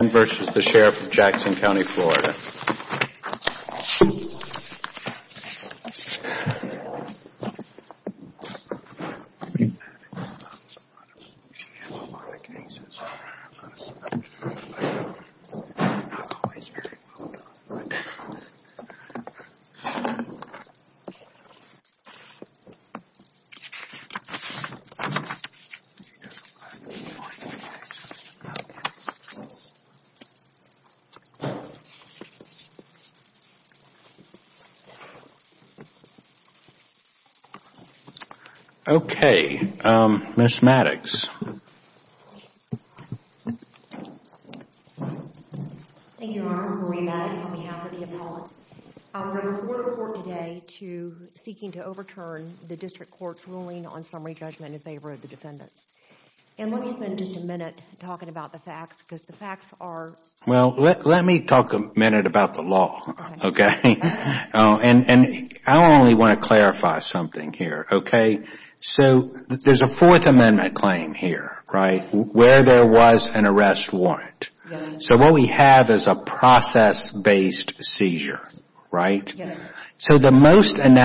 and v. The Sheriff of Jackson County Florida. Okay, Ms. Maddox. Thank you, Your Honor. I'm Marie Maddox on behalf of the appellant. I will report the court today to seeking to overturn the district court's ruling on summary judgment in favor of the defendants. And let me spend just a minute talking about the facts because the facts are... Well, let me talk a minute about the law, okay? And I only want to clarify something here, okay? So there's a Fourth Amendment claim here, right? Where there was an arrest warrant. So what we have is a process-based seizure, right? So the prosecution.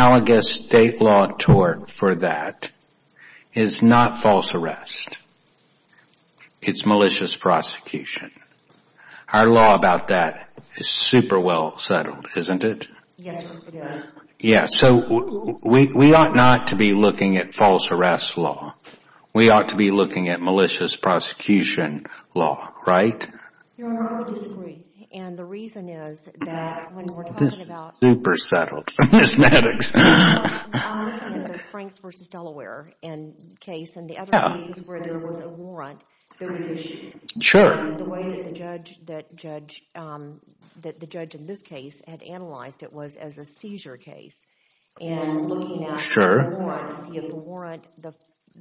Our law about that is super well settled, isn't it? Yes, it is. Yeah, so we ought not to be looking at false arrest law. We ought to be looking at malicious prosecution law, right? Your Honor, I would disagree. And the reason is that when we're talking about... This is super settled, Ms. Maddox. I'm looking at the Franks v. Delaware case and the other cases where there was a warrant, there was a... Sure. The way that the judge in this case had analyzed it was as a seizure case. And looking at the warrant to see if the warrant,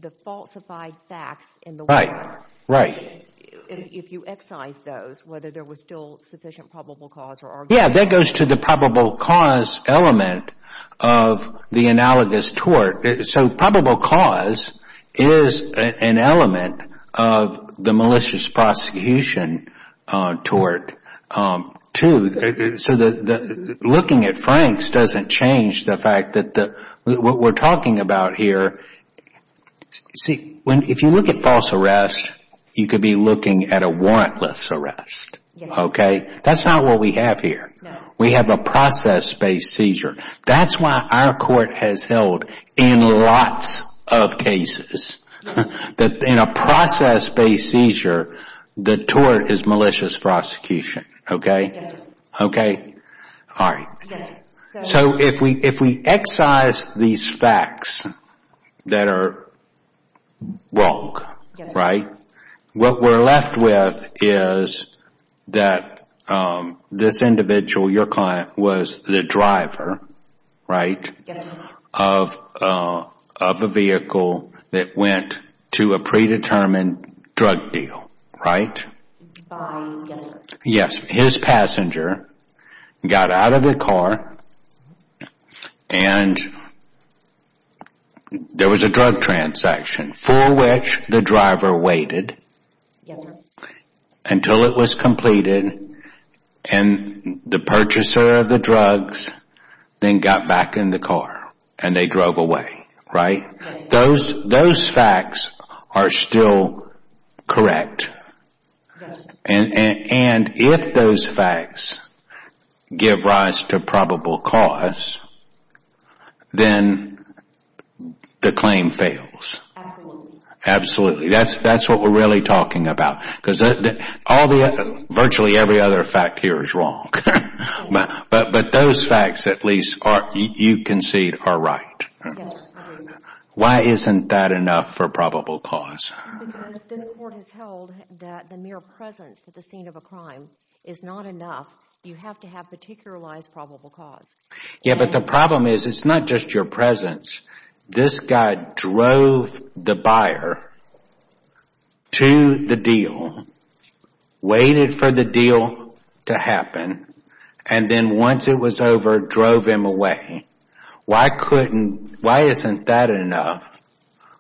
the falsified facts in the warrant... Right, right. If you excise those, whether there was still sufficient probable cause or argument... Yeah, that goes to the probable cause element of the analogous tort. So probable cause is an element of the malicious prosecution tort, too. So looking at Franks doesn't change the fact that what we're talking about here... See, if you look at false arrest, you could be looking at a warrantless arrest, okay? That's not what we have here. We have a process-based seizure. That's why our court has held in lots of cases that in a process-based seizure, the tort is malicious prosecution, okay? Okay? All right. So if we excise these facts that are wrong, right, what we're left with is that this individual, your client, was the driver, right? Yes, sir. Of a vehicle that went to a predetermined drug deal, right? Yes, sir. Yes. His passenger got out of the car and there was a drug transaction for which the driver waited... Yes, sir... until it was completed and the purchaser of the drugs then got back in the car and they drove away, right? Yes, sir. Those facts are still correct. Yes, sir. And if those facts give rise to probable cause, then the claim fails. Absolutely. Absolutely. That's what we're really talking about because virtually every other fact here is wrong, but those facts at least you concede are right. Yes, I do. Why isn't that enough for probable cause? Because this court has held that the mere presence at the scene of a crime is not enough. You have to have particularized probable cause. Yes, but the problem is it's not just your buyer to the deal, waited for the deal to happen, and then once it was over, drove him away. Why couldn't... Why isn't that enough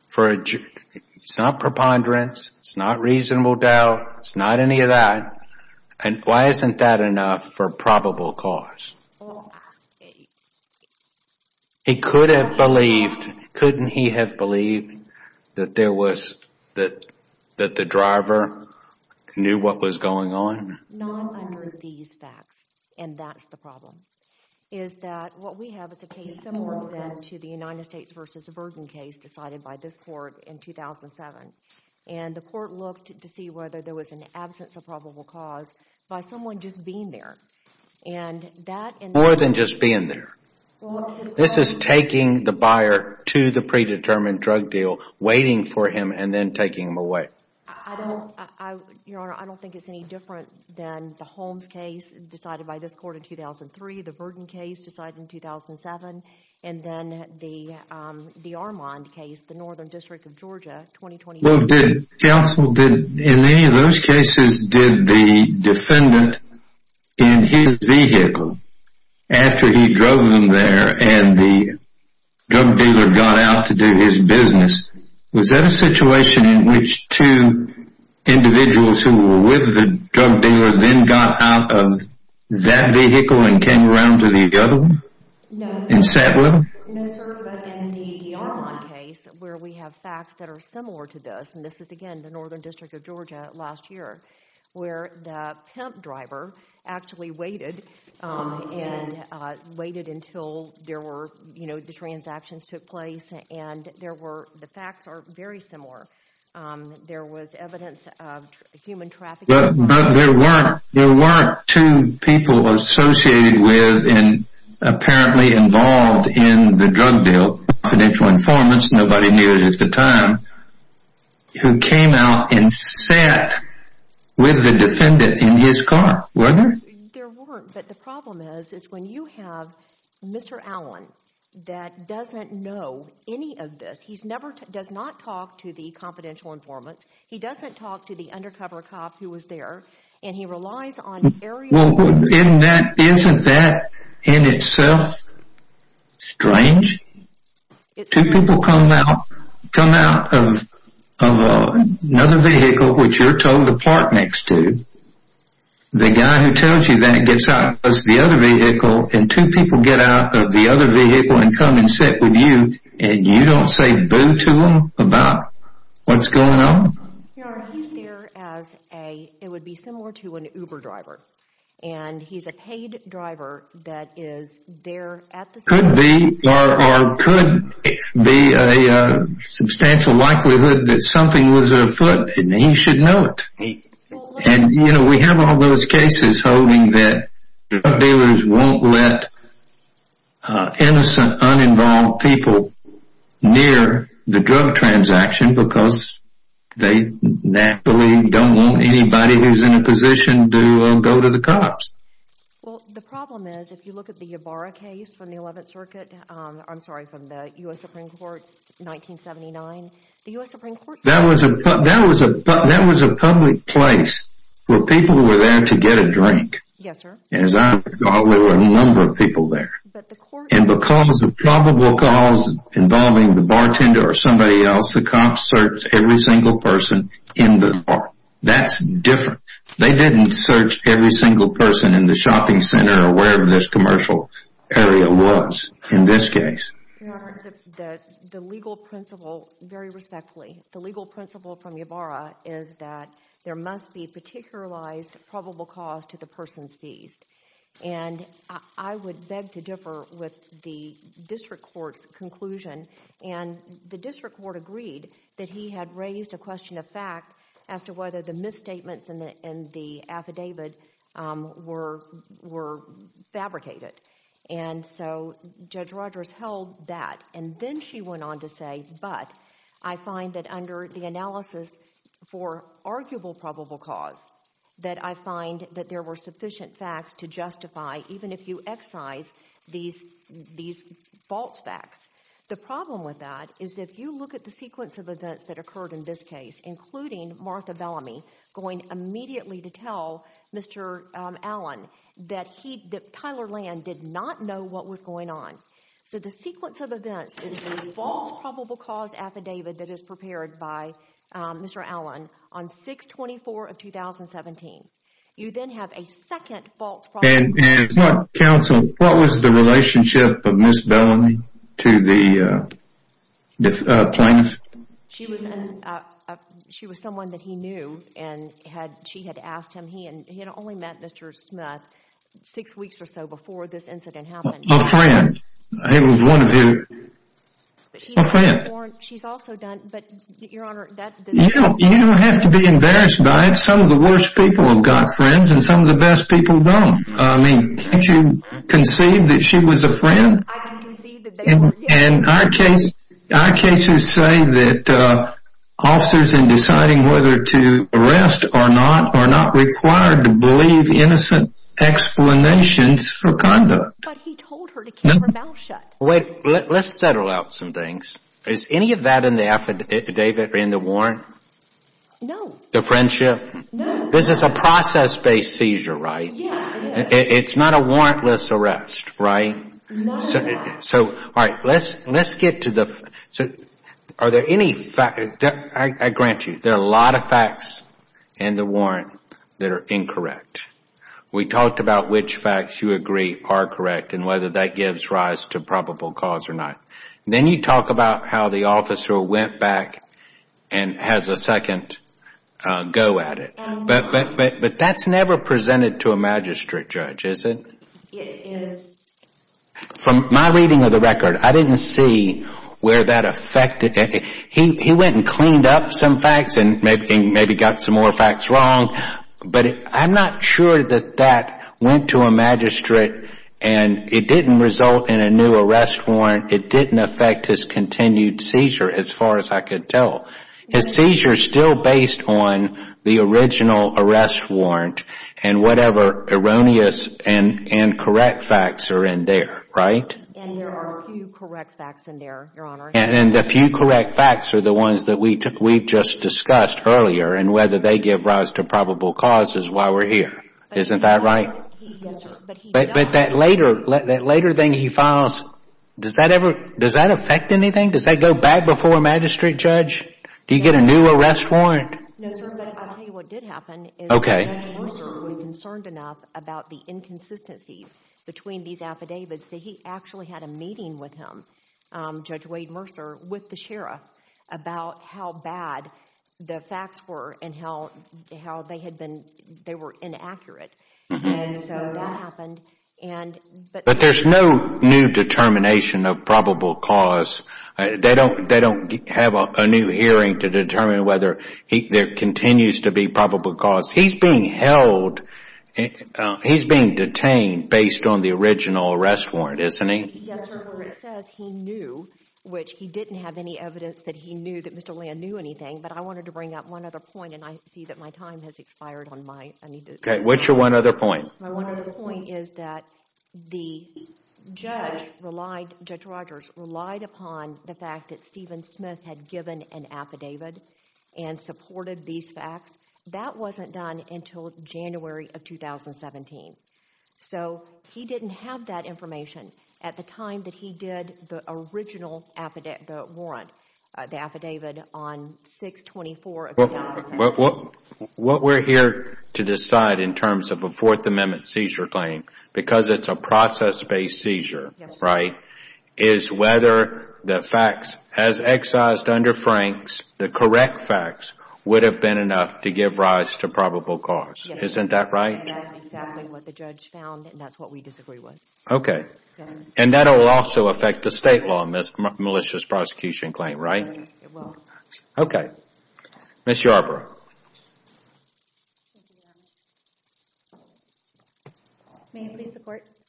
for... It's not preponderance. It's not reasonable doubt. It's not any of that. Why isn't that enough for probable cause? He could have believed... Couldn't he have believed that there was... that the driver knew what was going on? Not under these facts, and that's the problem. Is that what we have is a case similar to the United States versus Bergen case decided by this court in 2007, and the court looked to see whether there was an absence of probable cause by someone just being there, and that... More than just being there. This is taking the buyer to the predetermined drug deal, waiting for him, and then taking him away. I don't... Your Honor, I don't think it's any different than the Holmes case decided by this court in 2003, the Bergen case decided in 2007, and then the Armand case, the Northern District of Georgia, 2020... Well, did... Counsel, did... In any of those cases, did the defendant in his vehicle after he drove him there, and the drug dealer got out to do his business, was that a situation in which two individuals who were with the drug dealer then got out of that vehicle and came around to the other one and sat with him? No, sir, but in the Armand case, where we have facts that are similar to this, and this is again the Northern District of Georgia last year, where the pimp driver actually waited, and waited until there were, you know, the transactions took place, and there were... The facts are very similar. There was evidence of human trafficking... But there weren't two people associated with and apparently involved in the drug deal, financial informants, nobody knew it at the time, who came out and sat with the defendant in his car, wasn't there? There weren't, but the problem is, is when you have Mr. Allen that doesn't know any of this, he's never... does not talk to the confidential informants, he doesn't talk to the undercover cop who was there, and he relies on... Well, isn't that in itself strange? Two people come out of another vehicle which you're told to park next to, the guy who tells you that gets out of the other vehicle, and two people get out of the other vehicle and come and sit with you, and you don't say boo to them about what's going on? No, he's there as a... it would be similar to an Uber driver, and he's a paid driver that is there at the... Could be, or could be a substantial likelihood that something was afoot, and he should know what he's talking about. And, you know, we have all those cases holding that drug dealers won't let innocent, uninvolved people near the drug transaction because they naturally don't want anybody who's in a position to go to the cops. Well, the problem is, if you look at the Ybarra case from the 11th Circuit, I'm sorry, from the U.S. Supreme Court, 1979, the U.S. Supreme Court... That was a public place where people were there to get a drink. Yes, sir. And as I recall, there were a number of people there. But the court... And because of probable cause involving the bartender or somebody else, the cops searched every single person in the bar. That's different. They didn't search every single person in the shopping center or wherever this commercial area was in this case. Your Honor, the legal principle, very respectfully, the legal principle from Ybarra is that there must be a particularized probable cause to the person's these. And I would beg to differ with the district court's conclusion. And the district court agreed that he had raised a question of fact as to whether the misstatements in the affidavit were fabricated. And so Judge Rogers held that. And then she went on to say, but I find that under the analysis for arguable probable cause, that I find that there were sufficient facts to justify even if you excise these false facts. The problem with that is if you look at the sequence of events that occurred in this case, including Martha Bellamy going immediately to tell Mr. Allen that he, that Tyler Land did not know what was going on. So the sequence of events is a false probable cause affidavit that is prepared by Mr. Allen on 6-24 of 2017. You then have a second false probable cause. And what counsel, what was the relationship of Ms. Bellamy to the plaintiff? She was someone that he knew and she had asked him. He had only met Mr. Smith six weeks or so before this incident happened. A friend. It was one of you. A friend. She's also done, but Your Honor, that's. You don't have to be embarrassed by it. Some of the worst people have got friends and some of the best people don't. I mean, can't you conceive that she was a friend? I can conceive that they were. And our cases to say that officers in deciding whether to arrest or not are not required to believe innocent explanations for conduct. But he told her to keep her mouth shut. Wait, let's settle out some things. Is any of that in the affidavit, in the warrant? No. The friendship? No. This is a process-based seizure, right? Yes. It's not a warrantless arrest, right? No. So, all right, let's get to the. Are there any facts? I grant you, there are a lot of facts in the warrant that are incorrect. We talked about which facts you agree are correct and whether that gives rise to probable cause or not. Then you talk about how the officer went back and has a second go at it. But that's never presented to a magistrate judge, is it? It is. From my reading of the record, I didn't see where that affected. He went and cleaned up some facts and maybe got some more facts wrong. But I'm not sure that that went to a magistrate and it didn't result in a new arrest warrant. It didn't affect his continued seizure as far as I could tell. His seizure is still based on the original arrest warrant and whatever erroneous and incorrect facts are in there, right? And there are a few correct facts in there, Your Honor. And the few correct facts are the ones that we took, we just discussed earlier and whether they give rise to probable cause is why we're here. Isn't that right? But that later, that later thing he files, does that ever, does that affect anything? Does that go back before a magistrate judge? Do you get a new arrest warrant? No, sir. But I'll tell you what did happen. Okay. Judge Mercer was concerned enough about the inconsistencies between these affidavits that he actually had a meeting with him, Judge Wade Mercer, with the sheriff about how bad the facts were and how they had been, they were inaccurate. And so that happened. But there's no new determination of probable cause. They don't, they don't have a new hearing to determine whether there continues to be probable cause. He's being held, he's being detained based on the original arrest warrant, isn't he? Yes, sir. But it says he knew, which he didn't have any evidence that he knew that Mr. Land knew anything. But I wanted to bring up one other point and I see that my time has expired on my, I need to. Okay. What's your one other point? My The judge relied, Judge Rogers relied upon the fact that Stephen Smith had given an affidavit and supported these facts. That wasn't done until January of 2017. So he didn't have that information at the time that he did the original affidavit, the warrant, the affidavit on 6-24. What we're here to decide in terms of a Fourth Amendment seizure claim, because it's a process based seizure, right, is whether the facts as excised under Frank's, the correct facts would have been enough to give rise to probable cause. Isn't that right? Yes, sir. And that's exactly what the judge found and that's what we disagree with. Okay. And that will also affect the state law, this malicious prosecution claim, right? It will. Okay. Ms. Yarbrough.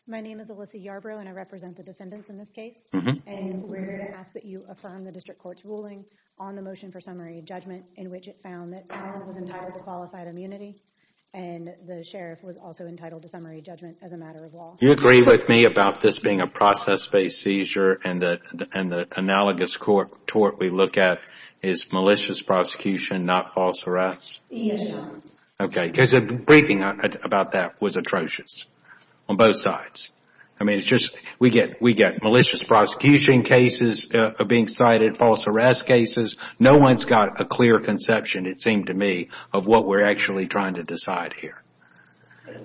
My name is Alyssa Yarbrough and I represent the defendants in this case. And we're here to ask that you affirm the district court's ruling on the motion for summary judgment in which it found that Allen was entitled to qualified immunity and the sheriff was also entitled to summary judgment as a matter of law. You agree with me about this being a process based seizure and the analogous court we look at is malicious prosecution, not false harass? Yes, sir. Okay. Because a briefing about that was atrocious on both sides. I mean, it's just, we get malicious prosecution cases being cited, false harass cases. No one's got a clear conception, it seemed to me, of what we're actually trying to decide here.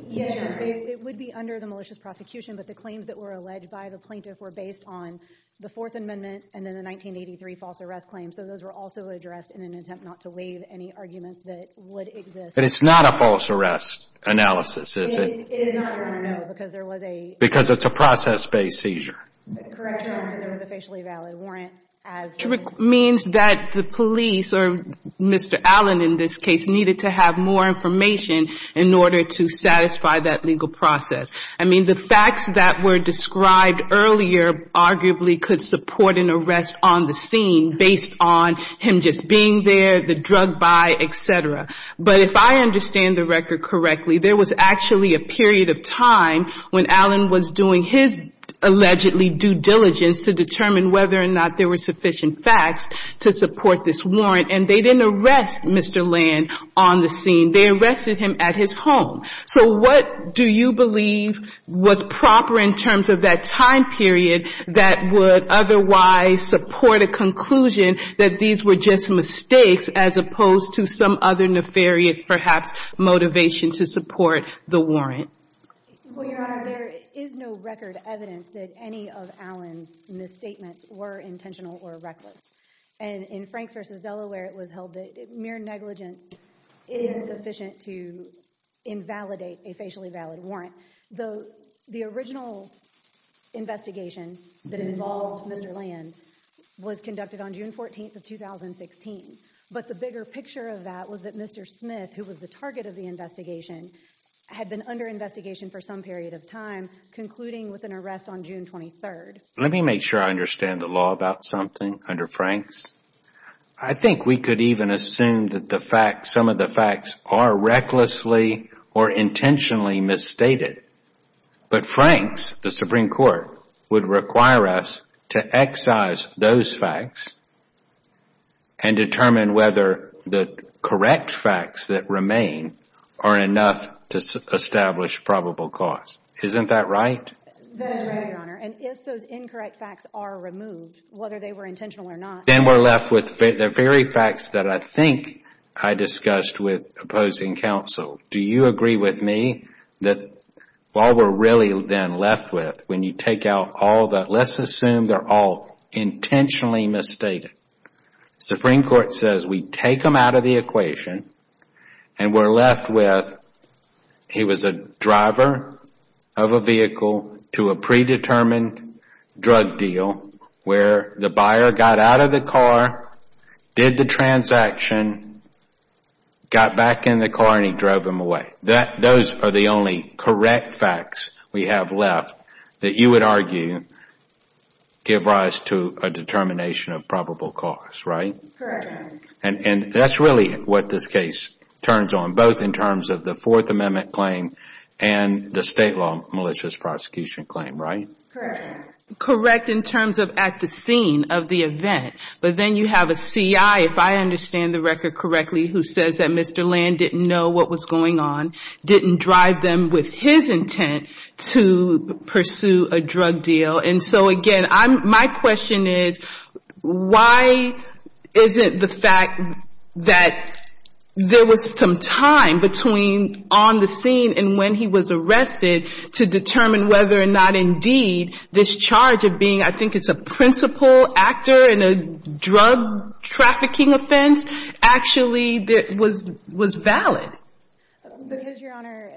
Yes, sir. It would be under the malicious prosecution, but the claims that were alleged by the plaintiff were based on the Fourth Amendment and then the 1983 false harass claims. So those were also addressed in an attempt not to leave any arguments that would exist. But it's not a false harass analysis, is it? It is not, Your Honor, no. Because it's a process based seizure. Correct, Your Honor, because there was a facially valid warrant as well. Which means that the police, or Mr. Allen in this case, needed to have more information in order to satisfy that legal process. I mean, the facts that were him just being there, the drug buy, et cetera. But if I understand the record correctly, there was actually a period of time when Allen was doing his allegedly due diligence to determine whether or not there were sufficient facts to support this warrant. And they didn't arrest Mr. Land on the scene. They arrested him at his home. So what do you believe was proper in terms of that time period that would otherwise support a conclusion that these were just mistakes as opposed to some other nefarious, perhaps, motivation to support the warrant? Well, Your Honor, there is no record evidence that any of Allen's misstatements were intentional or reckless. And in Franks v. Delaware, it was held that mere negligence is insufficient to invalidate a facially valid warrant. The original investigation that involved Mr. Land was conducted on June 14, 2016. But the bigger picture of that was that Mr. Smith, who was the target of the investigation, had been under investigation for some period of time, concluding with an arrest on June 23. Let me make sure I understand the law about something under Franks. I think we could even assume that some of the facts are recklessly or intentionally misstated. But Franks, the Supreme Court, would require us to excise those facts and determine whether the correct facts that remain are enough to establish probable cause. Isn't that right? That is right, Your Honor. And if those incorrect facts are removed, whether they were intentional or not... Then we are left with the very facts that I think I discussed with opposing counsel. Do you agree with me that while we are really then left with, when you take out all the facts, let's assume they are all intentionally misstated. The Supreme Court says we take them out of the equation and we are left with, he was a driver of a vehicle to a predetermined drug deal where the buyer got out of the car, did the transaction, got back in the car and he drove him away. Those are the only correct facts we have left that you would argue give rise to a determination of probable cause, right? Correct. And that is really what this case turns on, both in terms of the Fourth Amendment claim and the state law malicious prosecution claim, right? Correct. Correct in terms of at the scene of the event. But then you have a CI, if I understand the record correctly, who says that Mr. Land didn't know what was going on, didn't drive them with his intent to pursue a drug deal. And so again, my question is, why isn't the fact that there was some time between on the scene and when he was arrested to determine whether or not indeed this charge of being, I think it's a principal actor in a drug trafficking offense, actually was valid? Because, Your Honor,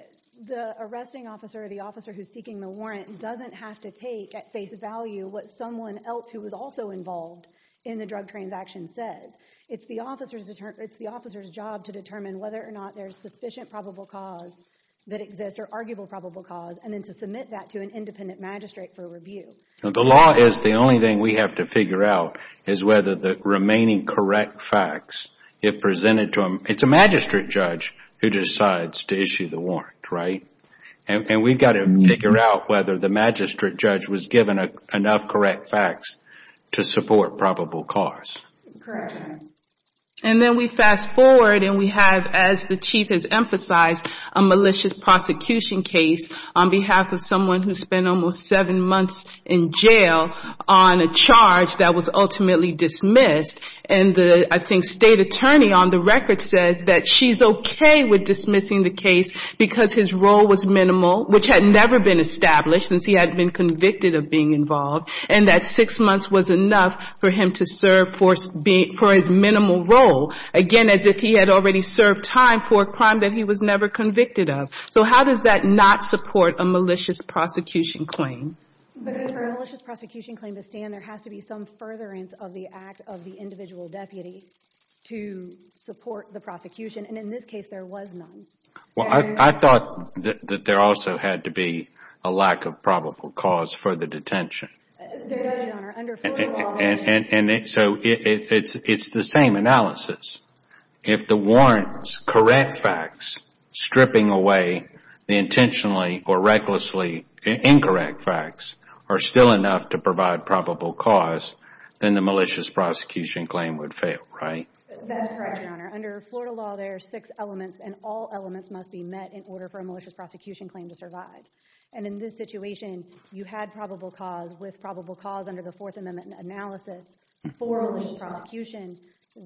the arresting officer or the officer who is seeking the warrant doesn't have to take at face value what someone else who was also involved in the drug transaction says. It's the officer's job to determine whether or not there is sufficient probable cause that exists, or arguable probable cause, and then to submit that to an independent magistrate for review. The law is, the only thing we have to figure out is whether the remaining correct facts it presented to him, it's a magistrate judge who decides to issue the warrant, right? And we've got to figure out whether the magistrate judge was given enough correct facts to support probable cause. Correct. And then we fast forward and we have, as the Chief has emphasized, a malicious prosecution case on behalf of someone who spent almost seven months in jail on a charge that was ultimately dismissed. And the, I think, state attorney on the record says that she's okay with dismissing the case because his role was minimal, which had never been established since he had been convicted of being involved, and that six months was enough for him to serve for his minimal role, again, as if he had already served time for a crime that he was never convicted of. So how does that not support a malicious prosecution claim? Because for a malicious prosecution claim to stand, there has to be some furtherance of the act of the individual deputy to support the prosecution. And in this case, there was none. Well, I thought that there also had to be a lack of probable cause for the detention. There does, Your Honor. Under Florida law, there's... So it's the same analysis. If the warrant's correct facts stripping away the intentionally or recklessly incorrect facts are still enough to provide probable cause, then the malicious prosecution claim would fail, right? That's correct, Your Honor. Under Florida law, there are six elements, and all elements must be met in order for a malicious prosecution claim to survive. And in this situation, you had probable cause, with probable cause under the Fourth Amendment analysis, for a malicious prosecution,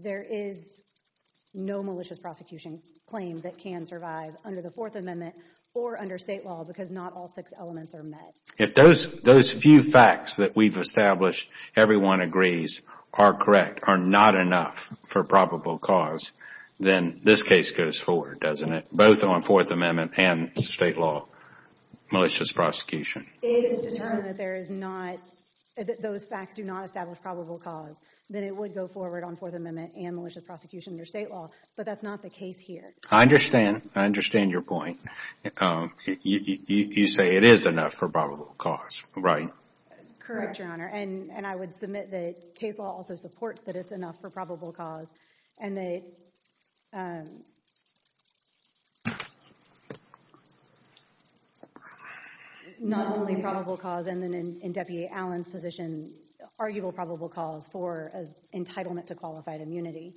there is no malicious prosecution claim that can survive under the Fourth Amendment or under state law, because not all six elements are met. If those few facts that we've established, everyone agrees, are correct, are not enough for probable cause, then this case goes forward, doesn't it? Both on Fourth Amendment and state law malicious prosecution. If it's determined that there is not, that those facts do not establish probable cause, then it would go forward on Fourth Amendment and malicious prosecution under state law, but that's not the case here. I understand. I understand your point. You say it is enough for probable cause, right? Correct, Your Honor. And I would submit that case law also supports that it's enough for only probable cause, and then in Deputy Allen's position, arguable probable cause for entitlement to qualified immunity,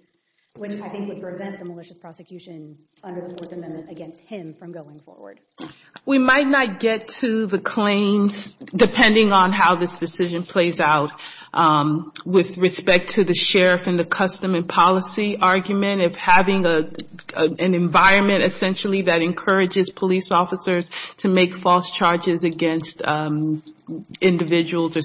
which I think would prevent the malicious prosecution under the Fourth Amendment against him from going forward. We might not get to the claims, depending on how this decision plays out, with respect to the sheriff and the custom and policy argument of having an environment, essentially, that individuals or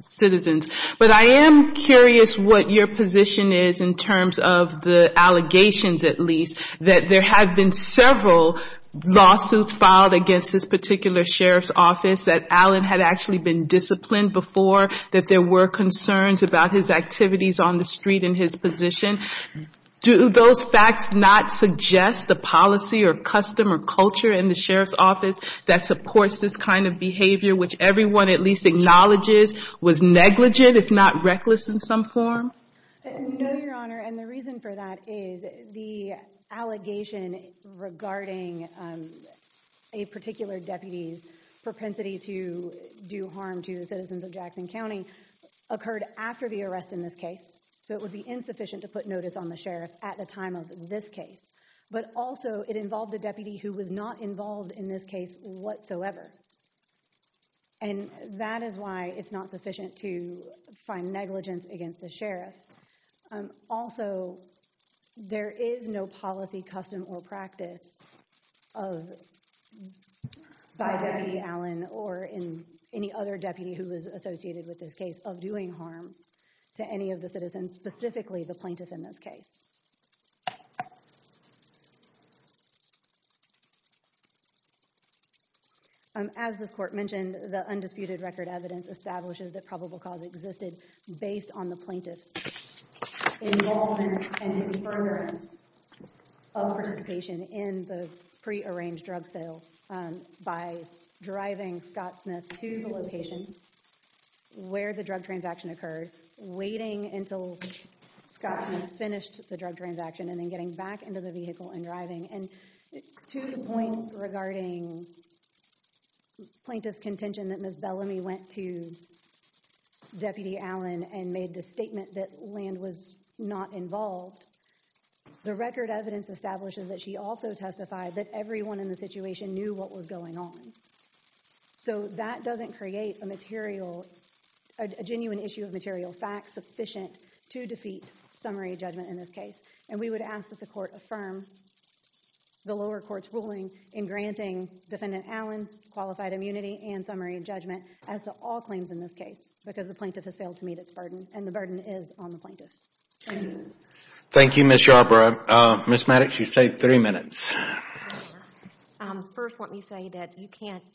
citizens. But I am curious what your position is in terms of the allegations, at least, that there have been several lawsuits filed against this particular sheriff's office that Allen had actually been disciplined before, that there were concerns about his activities on the street and his position. Do those facts not suggest a policy or custom or culture in the sheriff's office that supports this kind of behavior, which everyone at least acknowledges was negligent, if not reckless in some form? No, Your Honor. And the reason for that is the allegation regarding a particular deputy's propensity to do harm to the citizens of Jackson County occurred after the arrest in this case. So it would be insufficient to put notice on the sheriff at the time of this case. But also, it involved a deputy who was not involved in this case whatsoever. And that is why it's not sufficient to find negligence against the sheriff. Also, there is no policy, custom, or practice by Deputy Allen or any other deputy who was associated with this case of doing harm to any of the citizens, specifically the plaintiff in this case. As this Court mentioned, the undisputed record evidence establishes that probable cause existed based on the plaintiff's involvement and his fervor of participation in the pre-arranged drug sale by driving Scott Smith to the location where the drug transaction occurred, waiting until Scott Smith finished the drug transaction, and then getting back into the vehicle and driving. And to the point regarding plaintiff's contention that Ms. Bellamy went to Deputy Allen and made the statement that Land was not involved, the record evidence establishes that she also testified that everyone in the situation knew what was going on. So that doesn't create a genuine issue of material fact sufficient to defeat summary judgment in this case. And we would ask that the Court affirm the lower court's ruling in granting Defendant Allen qualified immunity and summary judgment as to all claims in this case, because the plaintiff has failed to meet its burden, and the burden is on the plaintiff. Thank you, Ms. Yarbrough. Ms. Maddox, you have three minutes. First, let me say that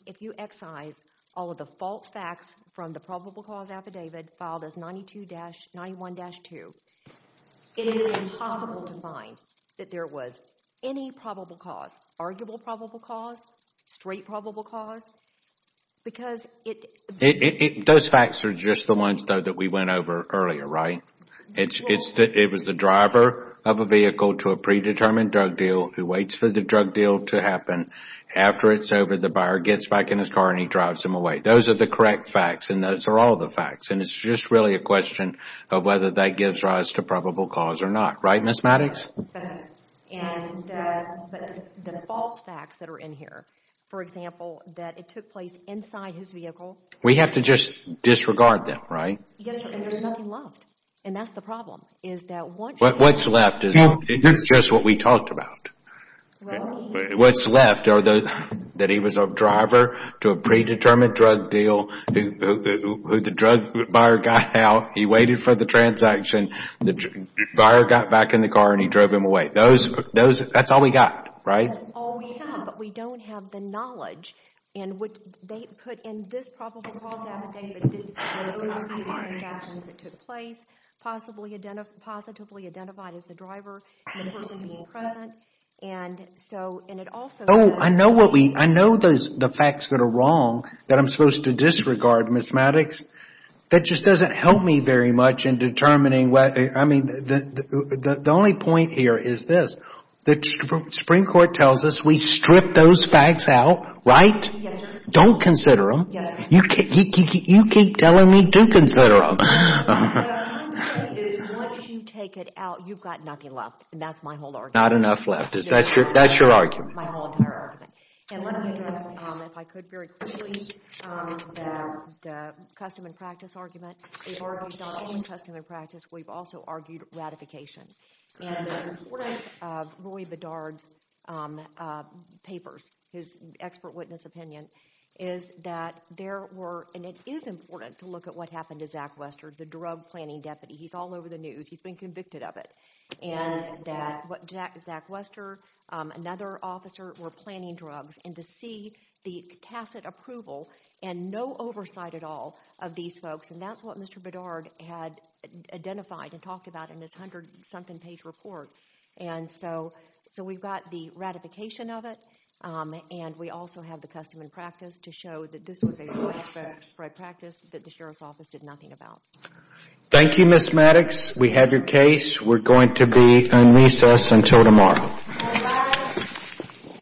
if you excise all of the false facts from the probable cause affidavit filed as 92-91-2, it is impossible to find that there was any probable cause, arguable probable cause, straight probable cause, because it... Those facts are just the ones, though, that we went over earlier, right? It was the driver of a vehicle to a predetermined drug deal who waits for the drug deal to happen. After it's over, the buyer gets back in his car and he drives him away. Those are the correct facts, and those are all the facts. And it's just really a question of whether that gives rise to probable cause or not. Right, Ms. Maddox? And the false facts that are in here, for example, that it took place inside his vehicle... We have to just disregard them, right? Yes, and there's nothing left. And that's the problem, is that once... What's left is just what we talked about. Really? What's left are that he was a driver to a predetermined drug deal, the drug buyer got out, he waited for the transaction, the buyer got back in the car and he drove him away. That's all we got, right? That's all we have, but we don't have the knowledge in which they put in this probable cause affidavit the earlier transactions that took place, positively identified as the driver and the person being present. And so, and it also says... Oh, I know what we, I know the facts that are wrong, that I'm supposed to disregard, Ms. Maddox. That just doesn't help me very much in determining whether, I mean, the only point here is this, the Supreme Court tells us we strip those facts out, right? Yes, sir. Don't consider them. Yes, sir. You keep telling me to consider them. No, what I'm saying is once you take it out, you've got nothing left, and that's my whole argument. Not enough left. No. That's your argument. My whole entire argument. And let me address, if I could very quickly, the custom and practice argument. We've argued not only custom and practice, we've also argued ratification. And the importance of Roy Bedard's papers, his expert witness opinion, is that there were, and it is important to look at what happened to Zach Wester, the drug planning deputy. He's all over the news. He's been convicted of it. And that Zach Wester, another officer, were planning drugs, and to see the tacit approval and no oversight at all of these folks, and that's what Mr. Bedard had identified and talked about in his hundred-something page report. And so we've got the ratification of it, and we also have the custom and practice to show that this was a practice that the Sheriff's Office did nothing about. Thank you, Ms. Maddox. We have your case. We're going to be in recess until tomorrow. Thank you.